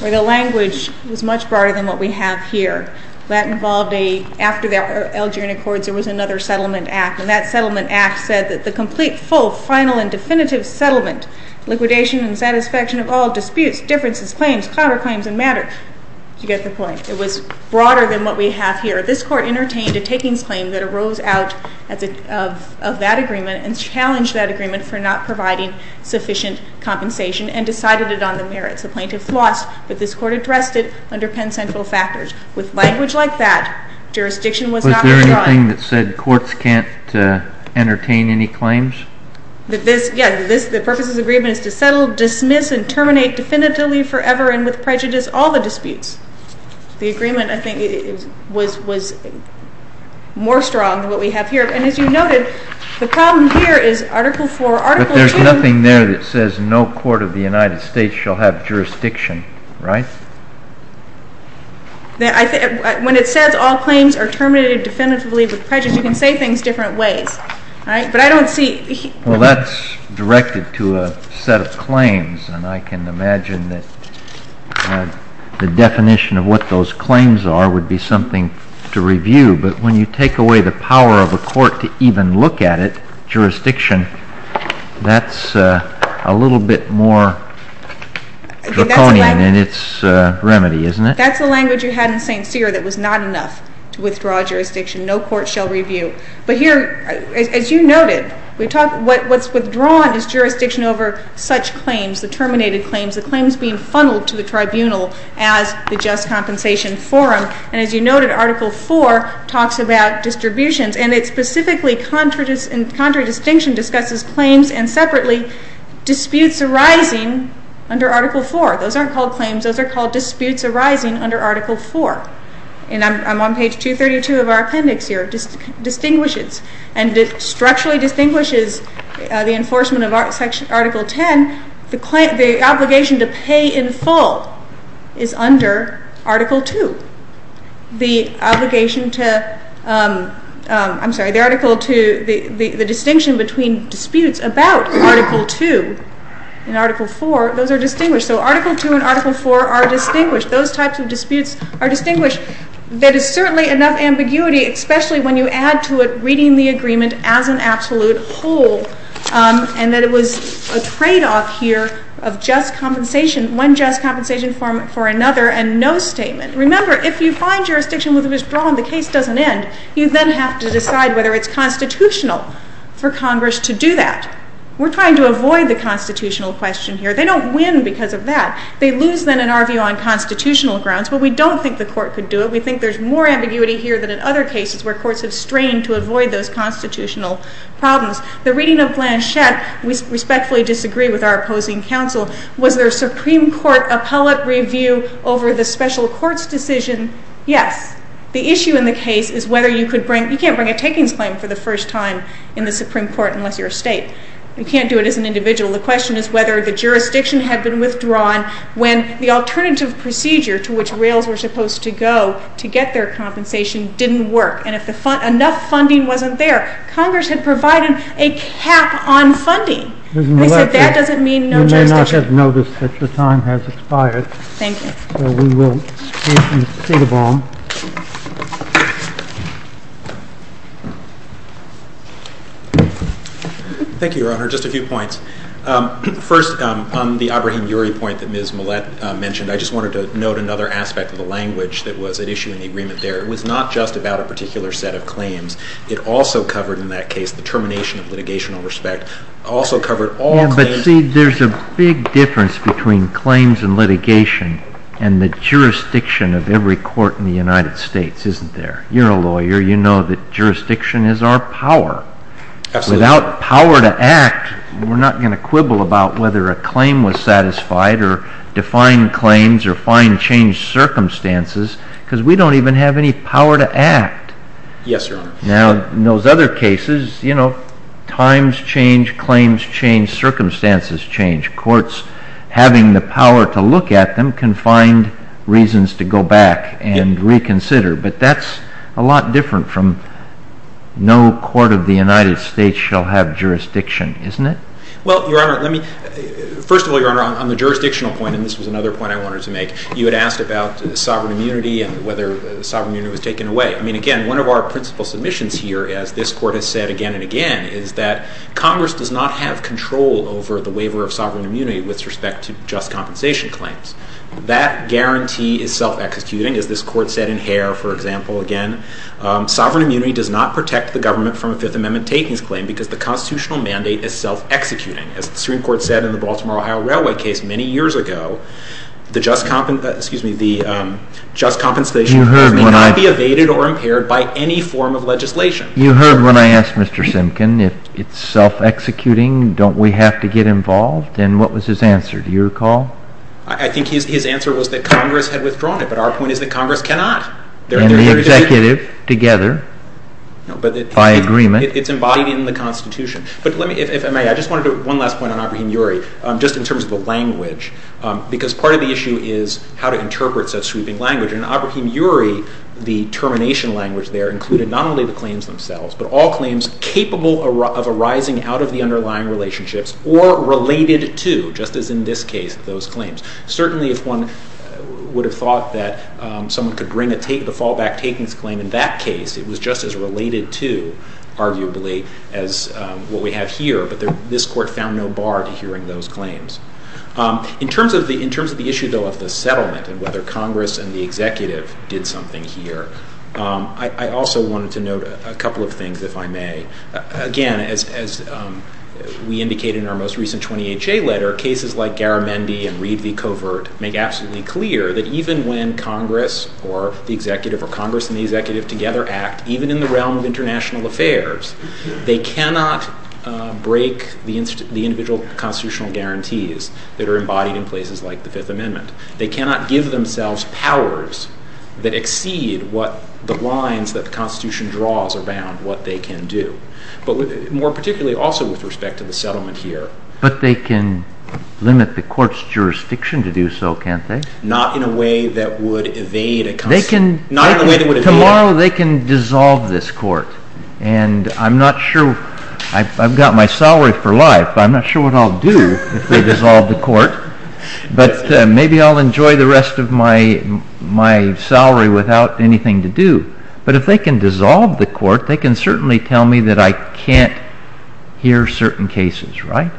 where the language was much broader than what we have here. That involved a, after the Algerian Accords there was another Settlement Act and that Settlement Act said that the complete, full final and definitive settlement liquidation and satisfaction of all disputes, differences, claims, clout or claims in matter did you get the point? It was broader than what we have here. This Court entertained a takings claim that arose out of that agreement and challenged that agreement for not providing sufficient compensation and decided it on the merits. The plaintiffs lost but this Court addressed it under Penn Central factors. With language like that jurisdiction was not withdrawn. Was there anything that said courts can't entertain any claims? The purpose of this agreement is to settle, dismiss and terminate definitively forever and with prejudice all the disputes. The agreement I think was more strong than what we have here and as you noted the problem here is Article 4, Article 2. But there's nothing there that says no court of the United States shall have jurisdiction, right? When it says all claims are terminated definitively with prejudice, you can say things different ways. But I don't see Well that's directed to a set of claims and I can imagine that the definition of what those claims are would be something to review. But when you take away the power of a court to even look at it, jurisdiction, that's a little bit more draconian in its remedy, isn't it? That's the language you had in St. Cyr that was not enough to withdraw jurisdiction. No court shall review. But here as you noted, what's withdrawn is jurisdiction over such claims, the terminated claims, the claims being funneled to the tribunal as the just compensation forum. And as you noted, Article 4 talks about distributions and it's specifically contradistinction discusses claims and separately disputes arising under Article 4. Those aren't called claims, those are called disputes arising under Article 4. And I'm on page 232 of our appendix here. It distinguishes and structurally distinguishes the enforcement of Article 10 the obligation to pay in full is under Article 2. The obligation to I'm sorry, the distinction between disputes about Article 2 and Article 4, those are distinguished. So Article 2 and Article 4 are distinguished. Those types of disputes are distinguished. That is certainly enough ambiguity, especially when you add to it reading the agreement as an absolute whole and that it was a trade-off here of just compensation, one just compensation forum for another and no statement. Remember if you find jurisdiction with which it was drawn, the case doesn't end. You then have to decide whether it's constitutional for Congress to do that. We're trying to avoid the constitutional question here. They don't win because of that. They lose then in our view on constitutional grounds, but we don't think the court could do it. We think there's more ambiguity here than in other cases where courts have strained to avoid those constitutional problems. The reading of Blanchett, we respectfully disagree with our opposing counsel. Was there a Supreme Court appellate review over the special courts decision? Yes. The issue in the case is whether you could bring, you can't bring a takings claim for the first time in the Supreme Court unless you're a state. You can't do it as an individual. The question is whether the jurisdiction had been withdrawn when the alternative procedure to which rails were supposed to go to get their compensation didn't work and if enough funding wasn't there, Congress had provided a cap on funding. That doesn't mean no jurisdiction. You may not have noticed that your time has expired. Thank you. We will proceed on Thank you, Your Honor. Just a few points. First, on the point that Ms. Millett mentioned, I just wanted to note another aspect of the language that was at issue in the agreement there. It was not just about a particular set of claims. It also covered in that case the termination of litigational respect. It also covered all claims. There's a big difference between claims and litigation and the jurisdiction of every court in the United States, isn't there? You're a lawyer. You know that jurisdiction is our power. Without power to act, we're not going to quibble about whether a claim was satisfied or define claims or find changed circumstances because we don't even have any power to act. Now, in those other cases, times change, claims change, circumstances change. Courts having the power to look at them can find reasons to go back and reconsider, but that's a lot different from no court of the United States shall have jurisdiction, isn't it? Well, Your Honor, let me... First of all, Your Honor, on the jurisdictional point, and this was another point I wanted to make, you had asked about sovereign immunity and whether sovereign immunity was taken away. I mean, again, one of our principal submissions here, as this court has said again and again, is that Congress does not have control over the waiver of sovereign immunity with respect to just compensation claims. That guarantee is self-executing, as this court said in Hare, for example, again. Sovereign immunity does not protect the government from a Fifth Amendment takings claim because the constitutional mandate is self-executing. As the Supreme Court said in the Baltimore-Ohio Railway case many years ago, the just compensation cannot be evaded or impaired by any form of legislation. You heard when I asked Mr. Simkin if it's self-executing, don't we have to get involved? And what was his answer? His answer was that Congress had withdrawn it, but our point is that Congress cannot. And the executive together by agreement. It's embodied in the Constitution. If I may, I just wanted to make one last point on Abraham-Urey, just in terms of the language, because part of the issue is how to interpret such sweeping language, and Abraham-Urey, the termination language there, included not only the claims themselves, but all claims capable of arising out of the underlying relationships or related to, just as in this case, those claims. Certainly if one would have thought that someone could bring the fallback takings claim in that case, it was just as related to, arguably, as what we have here, but this Court found no bar to hearing those claims. In terms of the issue, though, of the settlement and whether Congress and the executive did something here, I also wanted to note a couple of things, if I may. Again, as we indicated in our most recent 20HA letter, cases like Garamendi and Reed v. Covert make absolutely clear that even when Congress or the executive or Congress and the executive together act, even in the realm of international affairs, they cannot break the individual constitutional guarantees that are embodied in places like the Fifth Amendment. They cannot give themselves powers that exceed what the lines that the Constitution draws are bound, what they can do. More particularly also with respect to the settlement here. But they can limit the Court's jurisdiction to do so, can't they? Not in a way that would evade a constitutional... Tomorrow they can dissolve this Court, and I'm not sure... I've got my salary for life, but I'm not sure what I'll do if they dissolve the Court, but maybe I'll enjoy the rest of my salary without anything to do. But if they can tell me that I can't hear certain cases, right?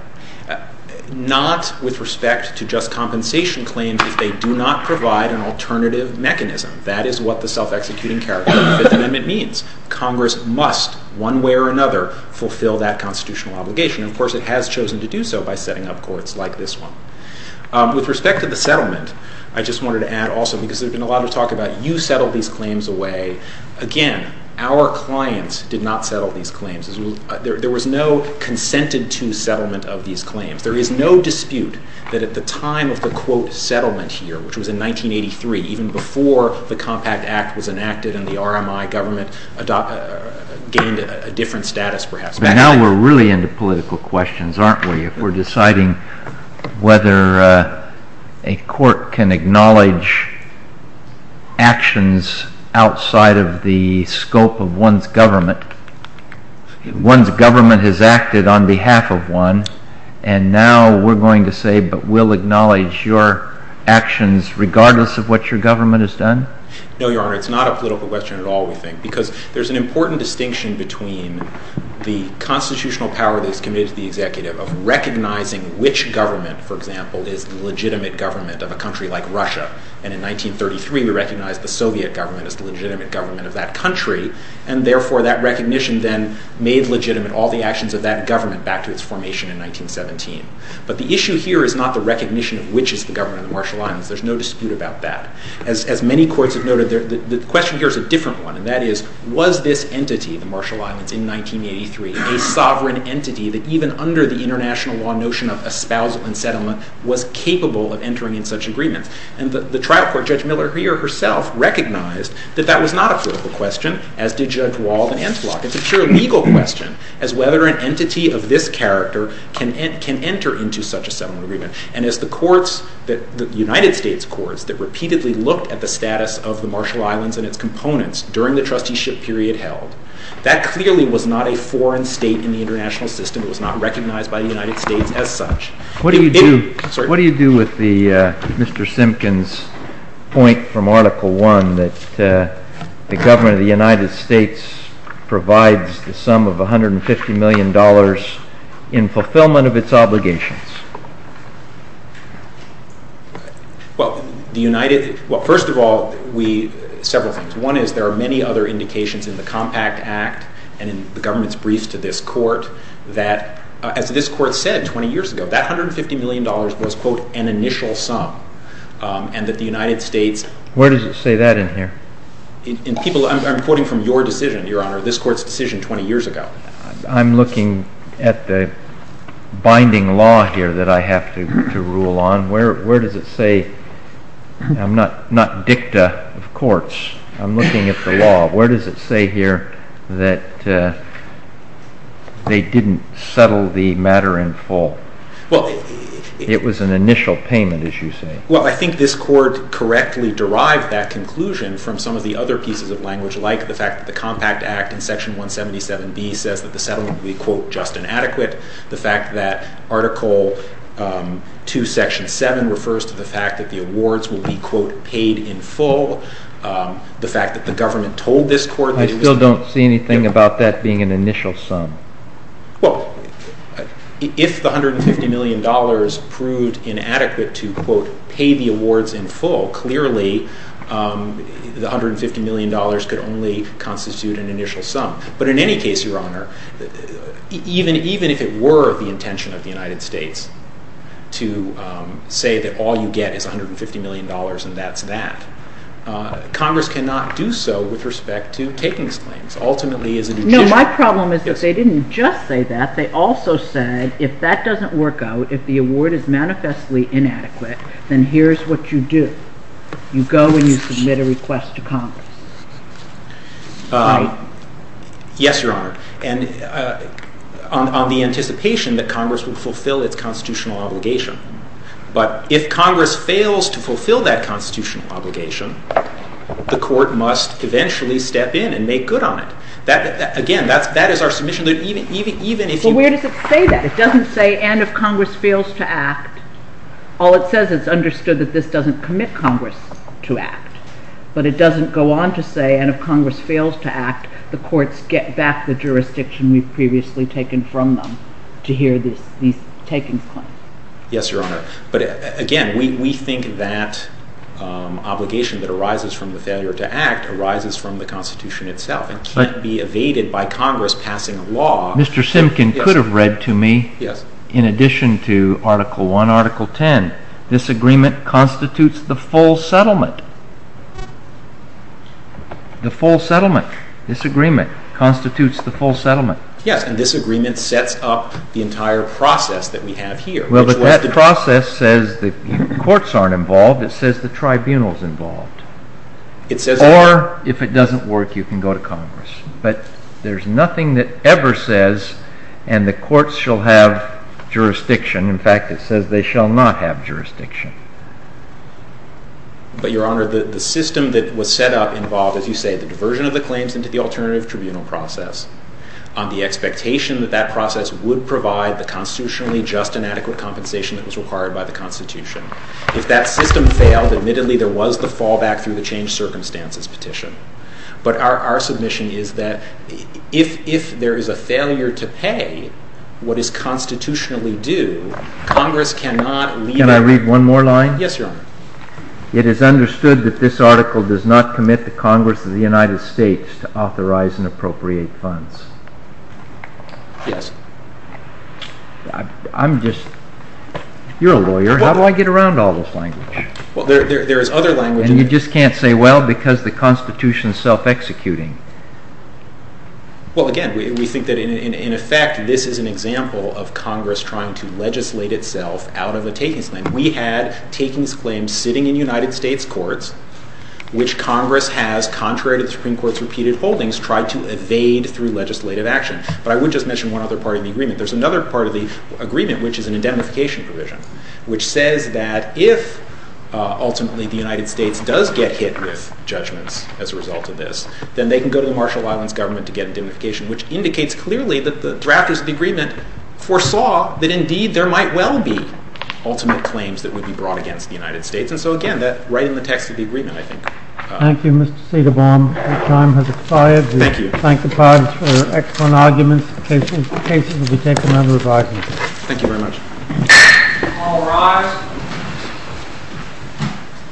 Not with respect to just compensation claims if they do not provide an alternative mechanism. That is what the self-executing character of the Fifth Amendment means. Congress must, one way or another, fulfill that constitutional obligation. Of course it has chosen to do so by setting up Courts like this one. With respect to the settlement, I just wanted to add also, because there's been a lot of talk about you settle these claims away. Again, our clients did not settle these claims. There was no consented to settlement of these claims. There is no dispute that at the time of the quote settlement here, which was in 1983, even before the Compact Act was enacted and the RMI government gained a different status perhaps. But now we're really into political questions, aren't we, if we're deciding whether a Court can acknowledge actions outside of the scope of one's government. One's government has acted on behalf of one, and now we're going to say, but we'll acknowledge your actions regardless of what your government has done? No, Your Honor. It's not a political question at all, we think, because there's an important distinction between the constitutional power that is committed to the executive of recognizing which government, for example, is the legitimate government of a country like Russia. And in other words, which government is the legitimate government of that country, and therefore that recognition then made legitimate all the actions of that government back to its formation in 1917. But the issue here is not the recognition of which is the government of the Marshall Islands. There's no dispute about that. As many courts have noted, the question here is a different one, and that is, was this entity, the Marshall Islands, in 1983, a sovereign entity that even under the international law notion of espousal and settlement was capable of entering in such agreements? And the trial court, Judge Miller here herself, recognized that that was not a political question, as did Judge Wald and Enflock. It's a pure legal question as whether an entity of this character can enter into such a settlement agreement. And as the courts, the United States courts, that repeatedly looked at the status of the Marshall Islands and its components during the trusteeship period held, that clearly was not a foreign state in the international system. It was not recognized by the United States as such. What do you do with the Mr. Simpkins point from Article 1 that the government of the United States provides the sum of $150 million in fulfillment of its obligations? Well, the United, well, first of all, we, several things. One is there are many other indications in the Compact Act and in the government's briefs to this court that, as this court said 20 years ago, that $150 million was, quote, an initial sum and that the United States Where does it say that in here? In people, I'm quoting from your decision, Your Honor, this court's decision 20 years ago. I'm looking at the binding law here that I have to rule on. Where does it say, I'm not dicta of courts, I'm looking at the law, where does it say here that they didn't settle the matter in full? It was an initial payment, as you say. Well, I think this court correctly derived that conclusion from some of the other pieces of language, like the fact that the Compact Act in Section 177b says that the settlement will be, quote, just and adequate. The fact that Article 2, Section 7 refers to the fact that the awards will be, quote, paid in full. The fact that the government told this court that it was... I still don't see anything about that being an initial sum. Well, if the $150 million proved inadequate to, quote, pay the awards in full, clearly, the $150 million could only constitute an initial sum. But in any case, Your Honor, even if it were the intention of the United States to say that all you get is $150 million and that's that, Congress cannot do so with respect to taking these claims. Ultimately No, my problem is that they didn't just say that. They also said if that doesn't work out, if the award is manifestly inadequate, then here's what you do. You go and you submit a request to Congress. Right? Yes, Your Honor. And on the anticipation that Congress would fulfill its constitutional obligation. But if Congress fails to fulfill that constitutional obligation, the court must eventually step in and make good on it. Again, that is our submission. But where does it say that? It doesn't say, and if Congress fails to act, all it says is it's understood that this doesn't commit Congress to act. But it doesn't go on to say, and if Congress fails to act, the courts get back the jurisdiction we've previously taken from them to hear these taking claims. Yes, Your Honor. But again, we think that obligation that arises from the Constitution itself. It can't be evaded by Congress passing a law. Mr. Simkin could have read to me in addition to Article 1, Article 10, this agreement constitutes the full settlement. The full settlement. This agreement constitutes the full settlement. Yes, and this agreement sets up the entire process that we have here. Well, but that process says the courts aren't involved. It says the tribunal's involved. Or, if it doesn't work, you can go to Congress. But there's nothing that ever says and the courts shall have jurisdiction. In fact, it says they shall not have jurisdiction. But, Your Honor, the system that was set up involved, as you say, the diversion of the claims into the alternative tribunal process on the expectation that that process would provide the constitutionally just and adequate compensation that was required by the Constitution. If that system failed, admittedly there was the fallback through the changed circumstances petition. But our submission is that if there is a failure to pay what is constitutionally due, Congress cannot leave... Can I read one more line? Yes, Your Honor. It is understood that this article does not commit the Congress of the United States to authorize and appropriate funds. Yes. I'm just... You're a lawyer. How do I get around all this language? There is other language... And you just can't say, well, because the Constitution is self-executing. Well, again, we think that in effect, this is an example of Congress trying to legislate itself out of a takings claim. We had takings claims sitting in United States courts, which Congress has, contrary to the Supreme Court's repeated holdings, tried to evade through legislative action. But I would just mention one other part of the agreement. There's another part of the agreement, which is an indemnification provision, which says that if ultimately the United States does get hit with judgments as a result of this, then they can go to the Marshall Islands government to get indemnification, which indicates clearly that the drafters of the agreement foresaw that indeed there might well be ultimate claims that would be brought against the United States. And so, again, that's right in the text of the agreement, I think. Thank you, Mr. Cedarbaum. Your time has expired. Thank you. We thank the pardons for excellent arguments. The cases will be taken under review. Thank you very much. All rise.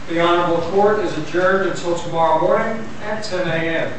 The honorable court is adjourned until tomorrow morning at 10 a.m.